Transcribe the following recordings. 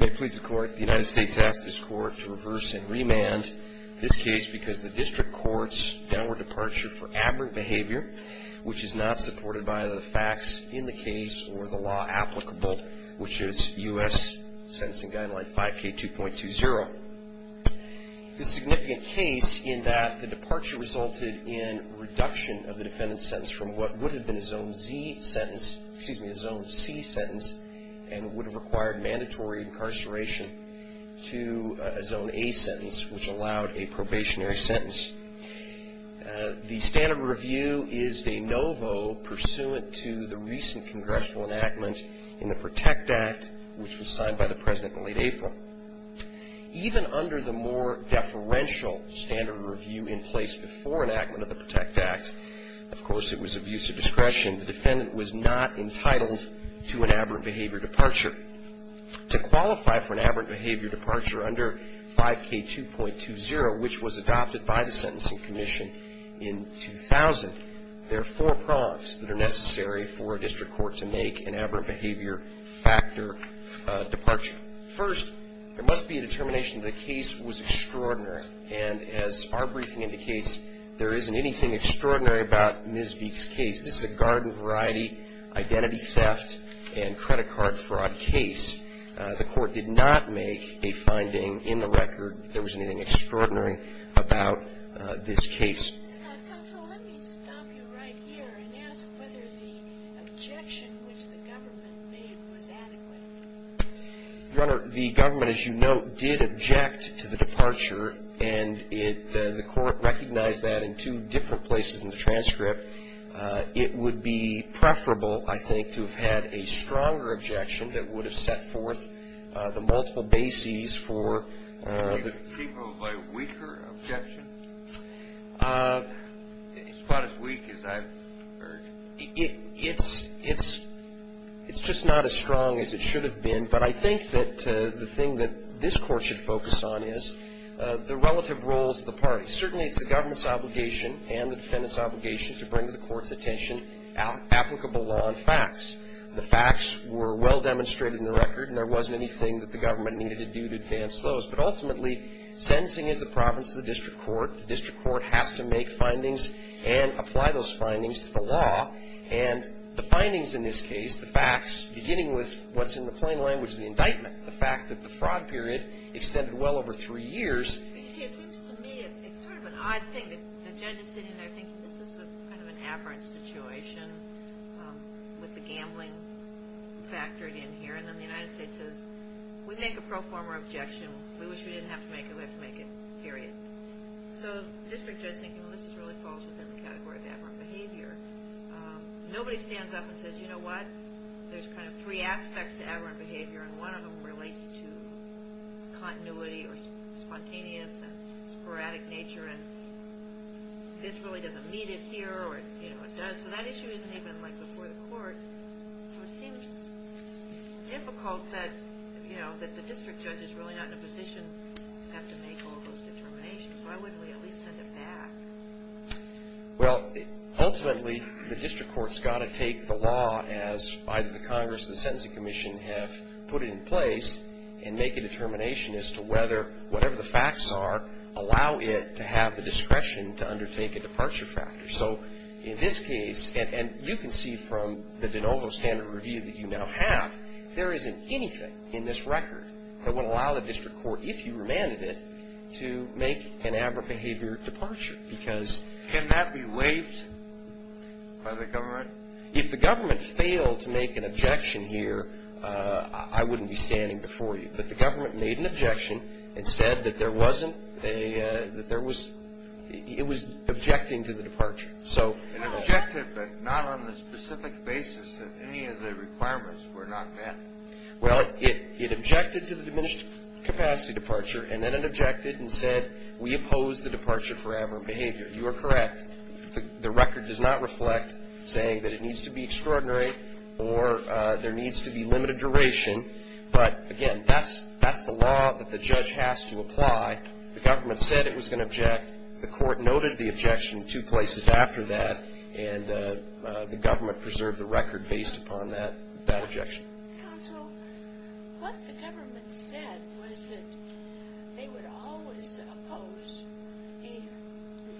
May it please the court, the United States asked this court to reverse and remand this case because the district court's downward departure for aberrant behavior, which is not supported by the facts in the case or the law applicable, which is U.S. Sentencing Guideline 5K2.20. This significant case in that the departure resulted in reduction of the defendant's sentence from what would have been a Zone Z sentence, excuse me, a Zone C sentence and would have required mandatory incarceration to a Zone A sentence, which allowed a probationary sentence. The standard of review is de novo pursuant to the recent congressional enactment in the PROTECT Act, which was signed by the President in late April. Even under the more deferential standard of review in place before enactment of the PROTECT Act, of course, it was abuse of discretion. The defendant was not entitled to an aberrant behavior departure. To qualify for an aberrant behavior departure under 5K2.20, which was adopted by the Sentencing Commission in 2000, there are four prompts that are necessary for a district court to make an aberrant behavior factor departure. First, there must be a determination that the case was extraordinary, and as our briefing indicates, there isn't anything extraordinary about Ms. Vieke's case. This is a garden variety identity theft and credit card fraud case. The Court did not make a finding in the record that there was anything extraordinary about this case. MS. VIEKE. Counsel, let me stop you right here and ask whether the objection which the government made was adequate. JUDGE LEBEN. Your Honor, the government, as you note, did object to the departure, and the Court recognized that in two different places in the transcript. It would be preferable, I think, to have had a stronger objection that would have set forth the multiple bases for the... JUDGE LEBEN. Do you think the people have a weaker objection? It's about as weak as I've heard. It's just not as strong as it should have been, but I think that the thing that this Court should focus on is the relative roles of the parties. Certainly, it's the government's obligation and the defendant's obligation to bring to the Court's attention applicable law and facts. The facts were well demonstrated in the record, and there wasn't anything that the government needed to do to advance those. But ultimately, sentencing is the province of the district court. The district court has to make findings and apply those findings to the law. And the findings in this case, the facts, beginning with what's in the plain language of the indictment, the fact that the fraud period extended well over three years. You see, it seems to me it's sort of an odd thing that the judge is sitting there thinking, this is kind of an aberrant situation with the gambling factored in here. And then the United States says, we make a pro forma objection. We wish we didn't have to make it. We have to make it, period. So the district judge is thinking, well, this really falls within the category of aberrant behavior. Nobody stands up and says, you know what, there's kind of three aspects to aberrant behavior, and one of them relates to continuity or spontaneous and sporadic nature. And this really doesn't meet it here, or it does. So that issue isn't even before the court. So it seems difficult that the district judge is really not in a position to have to make all those determinations. Why wouldn't we at least send it back? Well, ultimately, the district court's got to take the law, as either the Congress or the Sentencing Commission have put it in place, and make a determination as to whether, whatever the facts are, allow it to have the discretion to undertake a departure factor. So in this case, and you can see from the de novo standard review that you now have, there isn't anything in this record that would allow the district court, if you remanded it, to make an aberrant behavior departure. Can that be waived by the government? If the government failed to make an objection here, I wouldn't be standing before you. But the government made an objection and said that it was objecting to the departure. It objected, but not on the specific basis that any of the requirements were not met. Well, it objected to the diminished capacity departure, and then it objected and said, we oppose the departure for aberrant behavior. You are correct. The record does not reflect saying that it needs to be extraordinary or there needs to be limited duration. But, again, that's the law that the judge has to apply. The government said it was going to object. The court noted the objection two places after that, and the government preserved the record based upon that objection. Counsel, what the government said was that they would always oppose a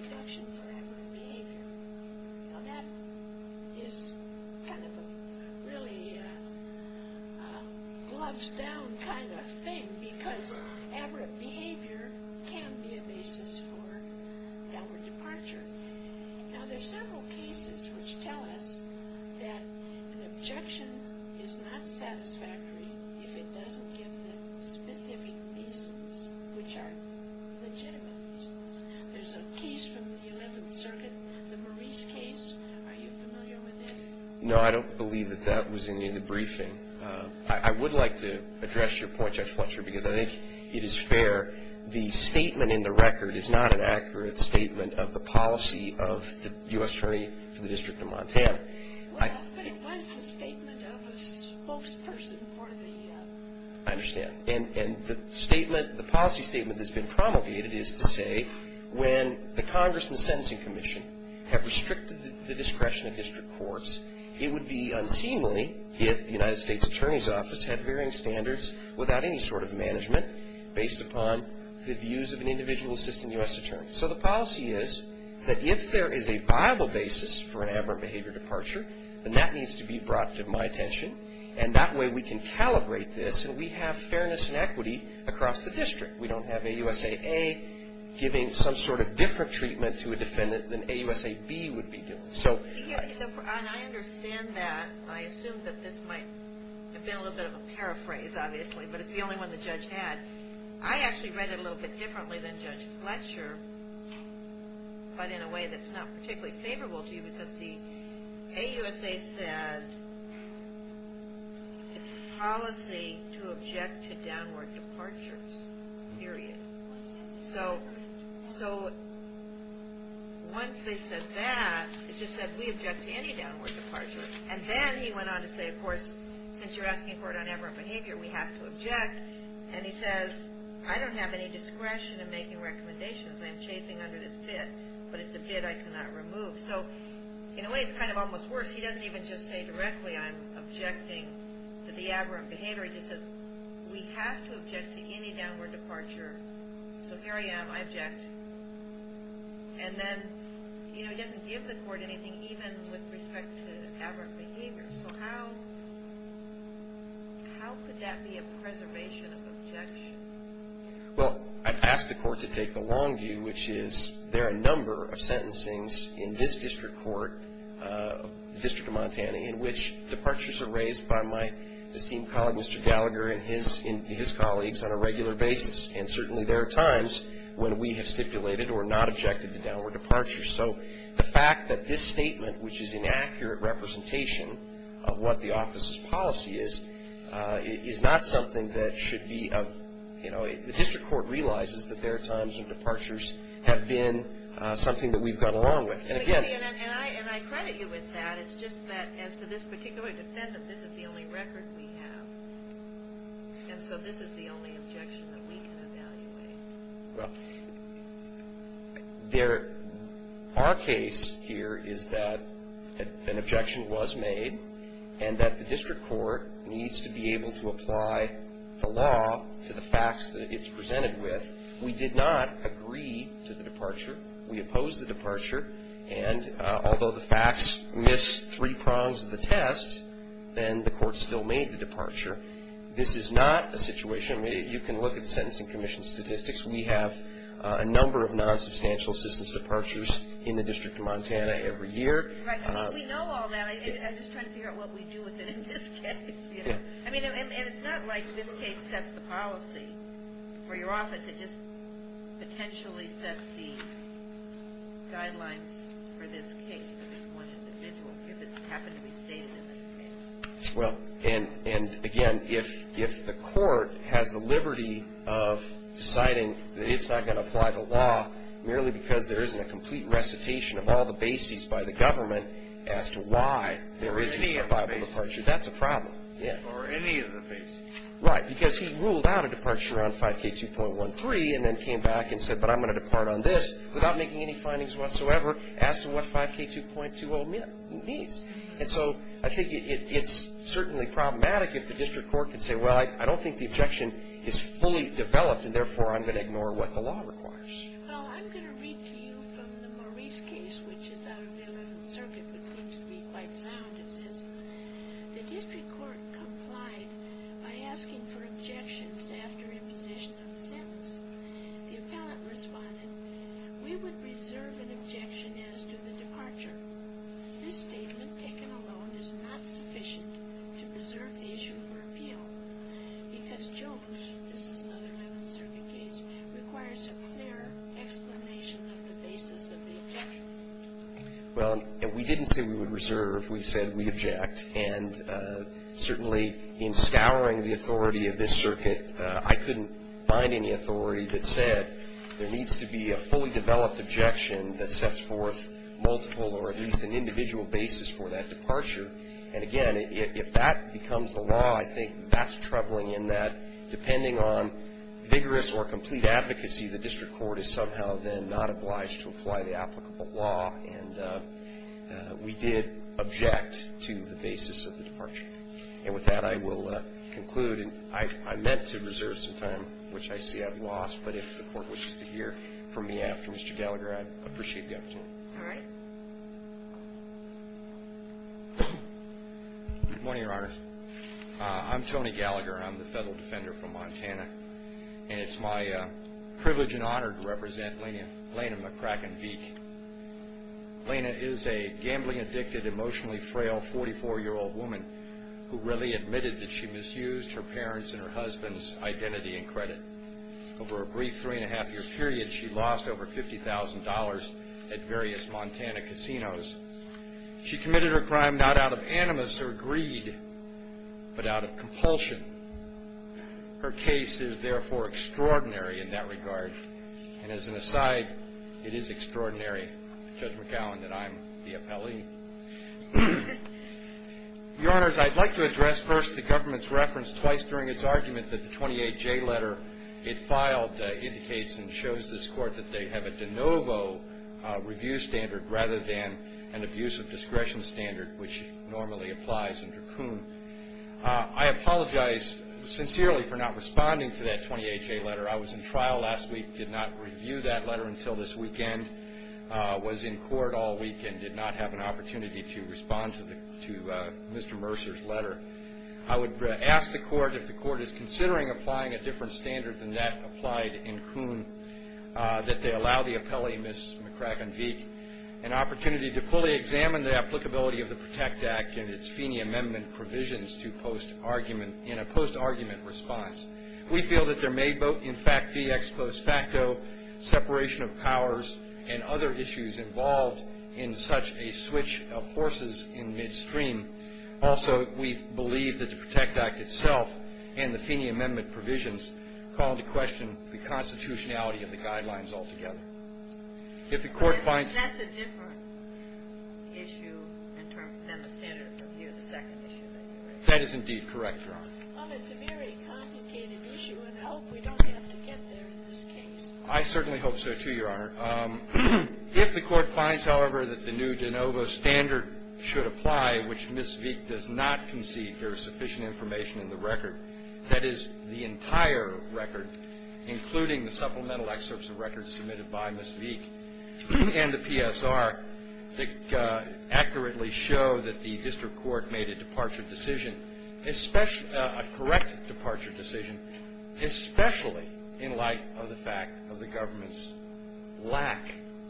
reduction for aberrant behavior. Now, that is kind of a really gloves-down kind of thing, because aberrant behavior can be a basis for downward departure. Now, there are several cases which tell us that an objection is not satisfactory if it doesn't give the specific reasons which are legitimate reasons. There's a case from the 11th Circuit, the Maurice case. Are you familiar with it? No, I don't believe that that was in the briefing. I would like to address your point, Judge Fletcher, because I think it is fair. The statement in the record is not an accurate statement of the policy of the U.S. Attorney for the District of Montana. Well, but it was the statement of a spokesperson for the… I understand. And the statement, the policy statement that's been promulgated is to say when the Congress and the Sentencing Commission have restricted the discretion of district courts, it would be unseemly if the United States Attorney's Office had varying standards without any sort of management based upon the views of an individual assistant U.S. Attorney. So the policy is that if there is a viable basis for an aberrant behavior departure, then that needs to be brought to my attention, and that way we can calibrate this, and we have fairness and equity across the district. We don't have AUSA A giving some sort of different treatment to a defendant than AUSA B would be doing. I understand that. I assume that this might have been a little bit of a paraphrase, obviously, but it's the only one the judge had. I actually read it a little bit differently than Judge Fletcher, but in a way that's not particularly favorable to you because the AUSA said it's a policy to object to downward departures, period. So once they said that, it just said we object to any downward departure. And then he went on to say, of course, since you're asking for it on aberrant behavior, we have to object. And he says, I don't have any discretion in making recommendations. I am chafing under this bid, but it's a bid I cannot remove. So in a way it's kind of almost worse. He doesn't even just say directly I'm objecting to the aberrant behavior. He just says we have to object to any downward departure. So here I am. I object. And then, you know, he doesn't give the court anything even with respect to aberrant behavior. So how could that be a preservation of objection? Well, I'd ask the court to take the long view, which is there are a number of sentencings in this district court, the District of Montana, in which departures are raised by my esteemed colleague, Mr. Gallagher, and his colleagues on a regular basis. And certainly there are times when we have stipulated or not objected to downward departures. So the fact that this statement, which is inaccurate representation of what the office's policy is, is not something that should be of, you know, the district court realizes that there are times when departures have been something that we've got along with. And I credit you with that. It's just that as to this particular defendant, this is the only record we have. And so this is the only objection that we can evaluate. Well, our case here is that an objection was made and that the district court needs to be able to apply the law to the facts that it's presented with. We did not agree to the departure. We opposed the departure. And although the facts missed three prongs of the test, then the court still made the departure. This is not a situation where you can look at the Sentencing Commission statistics. We have a number of non-substantial assistance departures in the District of Montana every year. Right. We know all that. I'm just trying to figure out what we do with it in this case. Yeah. I mean, and it's not like this case sets the policy for your office. It just potentially sets the guidelines for this case for this one individual because it happened to be stated in this case. Well, and again, if the court has the liberty of deciding that it's not going to apply the law merely because there isn't a complete recitation of all the bases by the government as to why there isn't a viable departure, that's a problem. Or any of the bases. Right. Because he ruled out a departure on 5K2.13 and then came back and said, but I'm going to depart on this without making any findings whatsoever as to what 5K2.20 means. And so I think it's certainly problematic if the district court can say, well, I don't think the objection is fully developed, and therefore I'm going to ignore what the law requires. Well, I'm going to read to you from the Maurice case, which is out of the Eleventh Circuit, which seems to be quite sound. It says, the district court complied by asking for objections after imposition of the sentence. The appellant responded, we would reserve an objection as to the departure. This statement taken alone is not sufficient to preserve the issue for appeal because Jones, this is another Eleventh Circuit case, requires a clear explanation of the basis of the objection. Well, we didn't say we would reserve. We said we'd object. And certainly in scouring the authority of this circuit, I couldn't find any authority that said there needs to be a fully developed objection that sets forth multiple or at least an individual basis for that departure. And again, if that becomes the law, I think that's troubling in that depending on vigorous or complete advocacy, the district court is somehow then not obliged to apply the applicable law. And we did object to the basis of the departure. And with that, I will conclude. And I meant to reserve some time, which I see I've lost, but if the Court wishes to hear from me after Mr. Gallagher, I'd appreciate the opportunity. All right. Good morning, Your Honors. I'm Tony Gallagher. I'm the federal defender from Montana. And it's my privilege and honor to represent Lena McCracken-Veek. Lena is a gambling-addicted, emotionally frail 44-year-old woman who really admitted that she misused her parents and her husband's identity and credit. Over a brief three-and-a-half-year period, she lost over $50,000 at various Montana casinos. She committed her crime not out of animus or greed, but out of compulsion. Her case is, therefore, extraordinary in that regard. And as an aside, it is extraordinary, Judge McAllen, that I'm the appellee. Your Honors, I'd like to address first the government's reference twice during its argument that the 28J letter it filed indicates and shows this Court that they have a de novo review standard rather than an abuse of discretion standard, which normally applies under Kuhn. I apologize sincerely for not responding to that 28J letter. I was in trial last week, did not review that letter until this weekend, was in court all week, and did not have an opportunity to respond to Mr. Mercer's letter. I would ask the Court, if the Court is considering applying a different standard than that applied in Kuhn, that they allow the appellee, Ms. McCracken-Veek, an opportunity to fully examine the applicability of the PROTECT Act and its Feeney Amendment provisions in a post-argument response. We feel that there may, in fact, be ex post facto separation of powers and other issues involved in such a switch of forces in midstream. Also, we believe that the PROTECT Act itself and the Feeney Amendment provisions call into question the constitutionality of the guidelines altogether. If the Court finds... But that's a different issue than the standard of review, the second issue that you raised. That is indeed correct, Your Honor. Well, it's a very complicated issue, and I hope we don't have to get there in this case. I certainly hope so, too, Your Honor. If the Court finds, however, that the new de novo standard should apply, which Ms. Veek does not concede there is sufficient information in the record, that is, the entire record, including the supplemental excerpts of records submitted by Ms. Veek and the PSR that accurately show that the district court made a departure decision, a correct departure decision, especially in light of the fact of the government's lack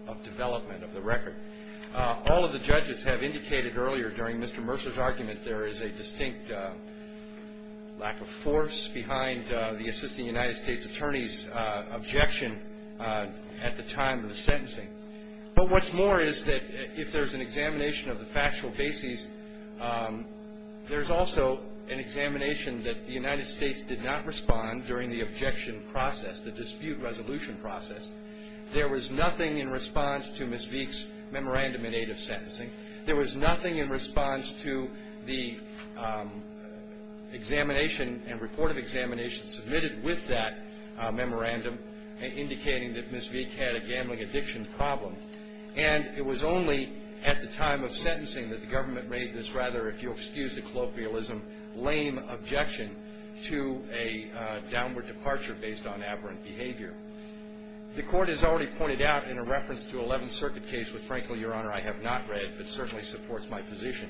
of development of the record. All of the judges have indicated earlier during Mr. Mercer's argument that there is a distinct lack of force behind the assistant United States attorney's objection at the time of the sentencing. But what's more is that if there's an examination of the factual bases, there's also an examination that the United States did not respond during the objection process, the dispute resolution process. There was nothing in response to Ms. Veek's memorandum in aid of sentencing. There was nothing in response to the examination and report of examinations submitted with that memorandum indicating that Ms. Veek had a gambling addiction problem. And it was only at the time of sentencing that the government made this rather, if you'll excuse the colloquialism, lame objection to a downward departure based on aberrant behavior. The Court has already pointed out in a reference to Eleventh Circuit case, which frankly, Your Honor, I have not read, but certainly supports my position,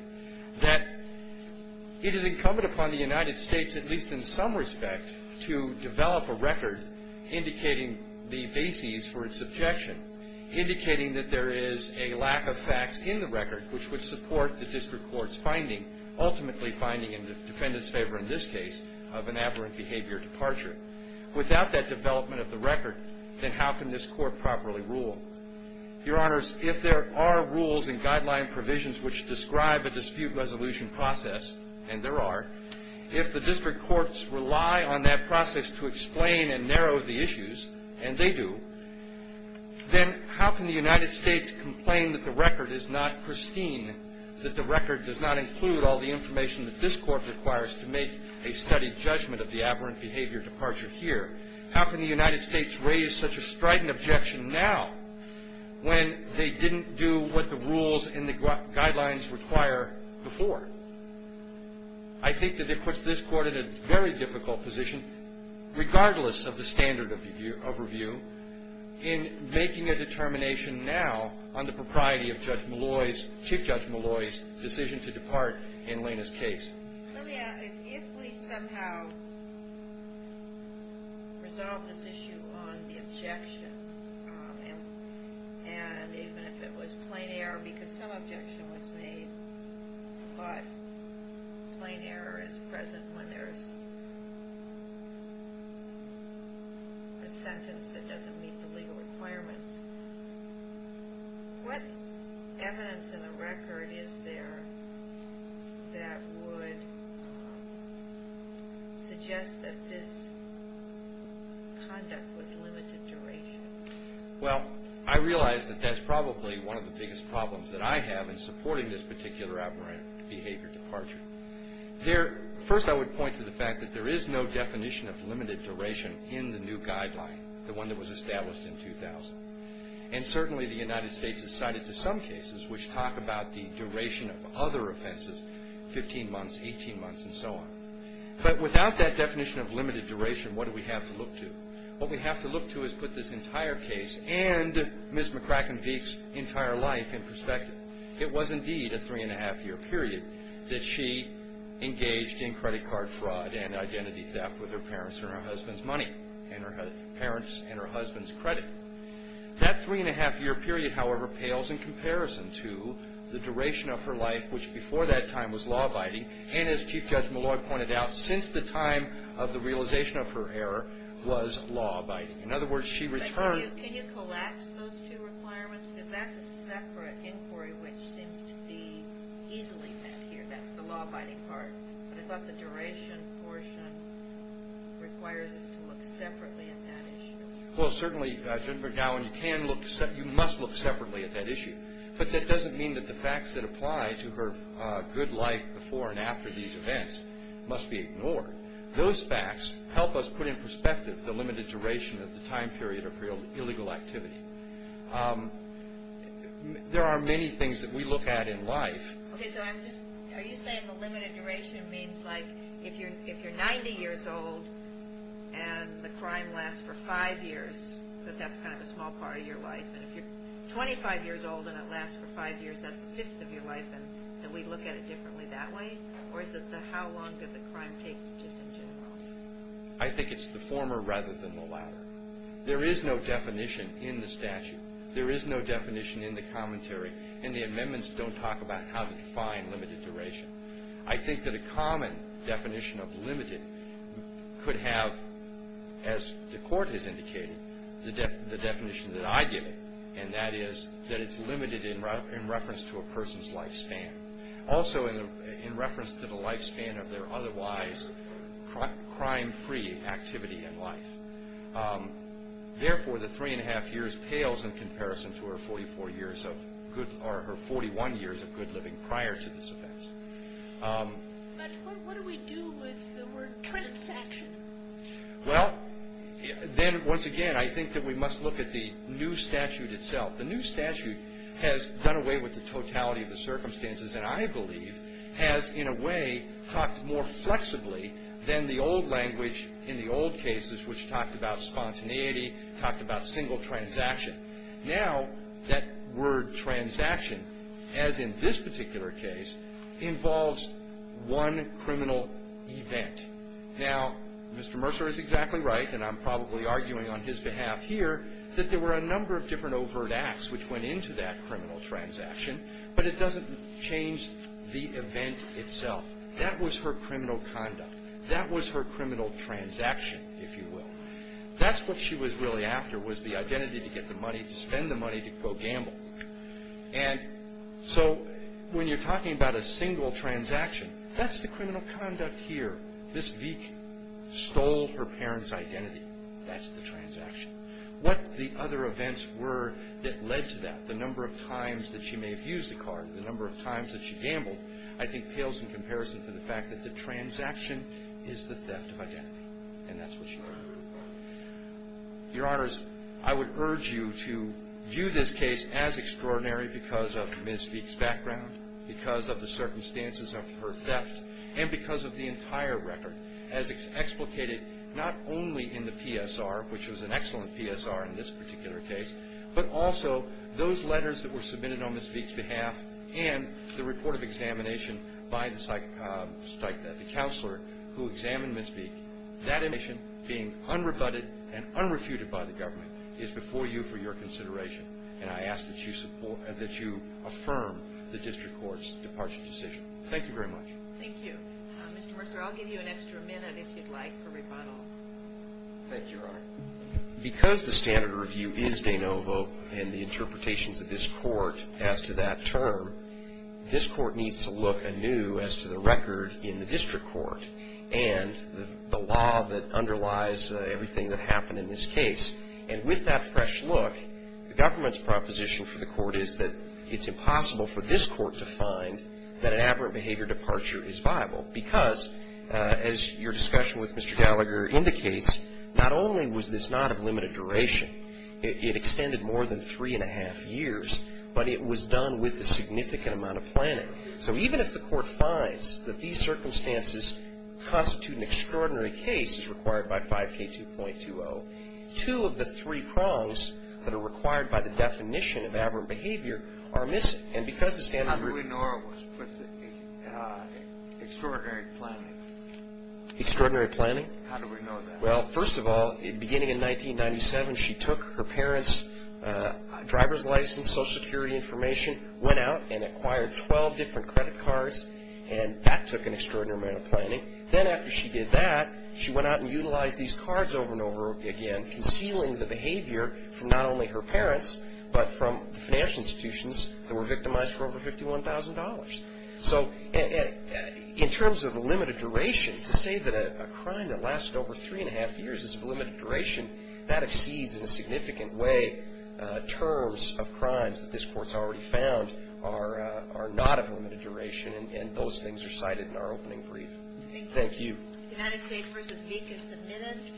that it is incumbent upon the United States, at least in some respect, to develop a record indicating the bases for its objection, indicating that there is a lack of facts in the record, which would support the district court's finding, ultimately finding in the defendant's favor in this case, of an aberrant behavior departure. Without that development of the record, then how can this Court properly rule? Your Honors, if there are rules and guideline provisions which describe a dispute resolution process, and there are, if the district courts rely on that process to explain and narrow the issues, and they do, then how can the United States complain that the record is not pristine, that the record does not include all the information that this Court requires to make a studied judgment of the aberrant behavior departure here? How can the United States raise such a strident objection now when they didn't do what the rules and the guidelines require before? I think that it puts this Court in a very difficult position, regardless of the standard of review, in making a determination now on the propriety of Judge Malloy's, Chief Judge Malloy's, decision to depart in Lena's case. Let me ask, if we somehow resolve this issue on the objection, and even if it was plain error, because some objection was made, but plain error is present when there's a sentence that doesn't meet the legal requirements, what evidence in the record is there that would suggest that this conduct was limited duration? Well, I realize that that's probably one of the biggest problems that I have in supporting this particular aberrant behavior departure. First, I would point to the fact that there is no definition of limited duration in the new guideline, the one that was established in 2000. And certainly, the United States has cited to some cases which talk about the duration of other offenses, 15 months, 18 months, and so on. But without that definition of limited duration, what do we have to look to? What we have to look to is put this entire case and Ms. McCracken Veek's entire life in perspective. It was indeed a three-and-a-half-year period that she engaged in credit card fraud and identity theft with her parents and her husband's money, and her parents and her husband's credit. That three-and-a-half-year period, however, pales in comparison to the duration of her life, which before that time was law-abiding, and as Chief Judge Malloy pointed out, since the time of the realization of her error was law-abiding. In other words, she returned... But can you collapse those two requirements? Because that's a separate inquiry which seems to be easily met here. I think that's the law-abiding part, but I thought the duration portion requires us to look separately at that issue. Well, certainly, Jennifer Gowan, you must look separately at that issue, but that doesn't mean that the facts that apply to her good life before and after these events must be ignored. Those facts help us put in perspective the limited duration of the time period of her illegal activity. There are many things that we look at in life... Okay, so I'm just... Are you saying the limited duration means, like, if you're 90 years old and the crime lasts for five years, that that's kind of a small part of your life, and if you're 25 years old and it lasts for five years, that's a fifth of your life, and we look at it differently that way? Or is it the how long did the crime take just in general? I think it's the former rather than the latter. There is no definition in the statute. There is no definition in the commentary, and the amendments don't talk about how to define limited duration. I think that a common definition of limited could have, as the court has indicated, the definition that I give it, and that is that it's limited in reference to a person's lifespan, also in reference to the lifespan of their otherwise crime-free activity in life. Therefore, the three-and-a-half years pales in comparison to her 44 years of good... or her 41 years of good living prior to this offense. But what do we do with the word transaction? Well, then, once again, I think that we must look at the new statute itself. The new statute has done away with the totality of the circumstances, and I believe has, in a way, talked more flexibly than the old language in the old cases, which talked about spontaneity, talked about single transaction. Now, that word transaction, as in this particular case, involves one criminal event. Now, Mr. Mercer is exactly right, and I'm probably arguing on his behalf here, that there were a number of different overt acts which went into that criminal transaction, but it doesn't change the event itself. That was her criminal conduct. That was her criminal transaction, if you will. That's what she was really after, was the identity to get the money, to spend the money, to go gamble. And so, when you're talking about a single transaction, that's the criminal conduct here. This Vick stole her parents' identity. That's the transaction. What the other events were that led to that, the number of times that she may have used the card, the number of times that she gambled, I think pales in comparison to the fact that the transaction is the theft of identity, and that's what she wanted to prove. Your Honors, I would urge you to view this case as extraordinary because of Ms. Vick's background, because of the circumstances of her theft, and because of the entire record, as explicated not only in the PSR, which was an excellent PSR in this particular case, but also those letters that were submitted on Ms. Vick's behalf, and the report of examination by the counselor who examined Ms. Vick. That admission, being unrebutted and unrefuted by the government, is before you for your consideration, and I ask that you affirm the District Court's departure decision. Thank you very much. Thank you. Mr. Mercer, I'll give you an extra minute, if you'd like, for rebuttal. Thank you, Your Honor. Because the standard review is de novo, and the interpretations of this court as to that term, this court needs to look anew as to the record in the District Court, and the law that underlies everything that happened in this case. And with that fresh look, the government's proposition for the court is that it's impossible for this court to find that an aberrant behavior departure is viable, because, as your discussion with Mr. Gallagher indicates, not only was this not of limited duration, it extended more than three and a half years, but it was done with a significant amount of planning. So even if the court finds that these circumstances constitute an extraordinary case, as required by 5K2.20, two of the three prongs that are required by the definition of aberrant behavior are missing. And because the standard review... How do we know it was extraordinary planning? Extraordinary planning? How do we know that? Well, first of all, beginning in 1997, she took her parents' driver's license, Social Security information, went out and acquired 12 different credit cards, and that took an extraordinary amount of planning. Then after she did that, she went out and utilized these cards over and over again, concealing the behavior from not only her parents, but from the financial institutions that were victimized for over $51,000. So in terms of limited duration, to say that a crime that lasted over three and a half years is of limited duration, that exceeds in a significant way terms of crimes that this Court's already found are not of limited duration, and those things are cited in our opening brief. Thank you. Thank you. United States v. Meek is submitted.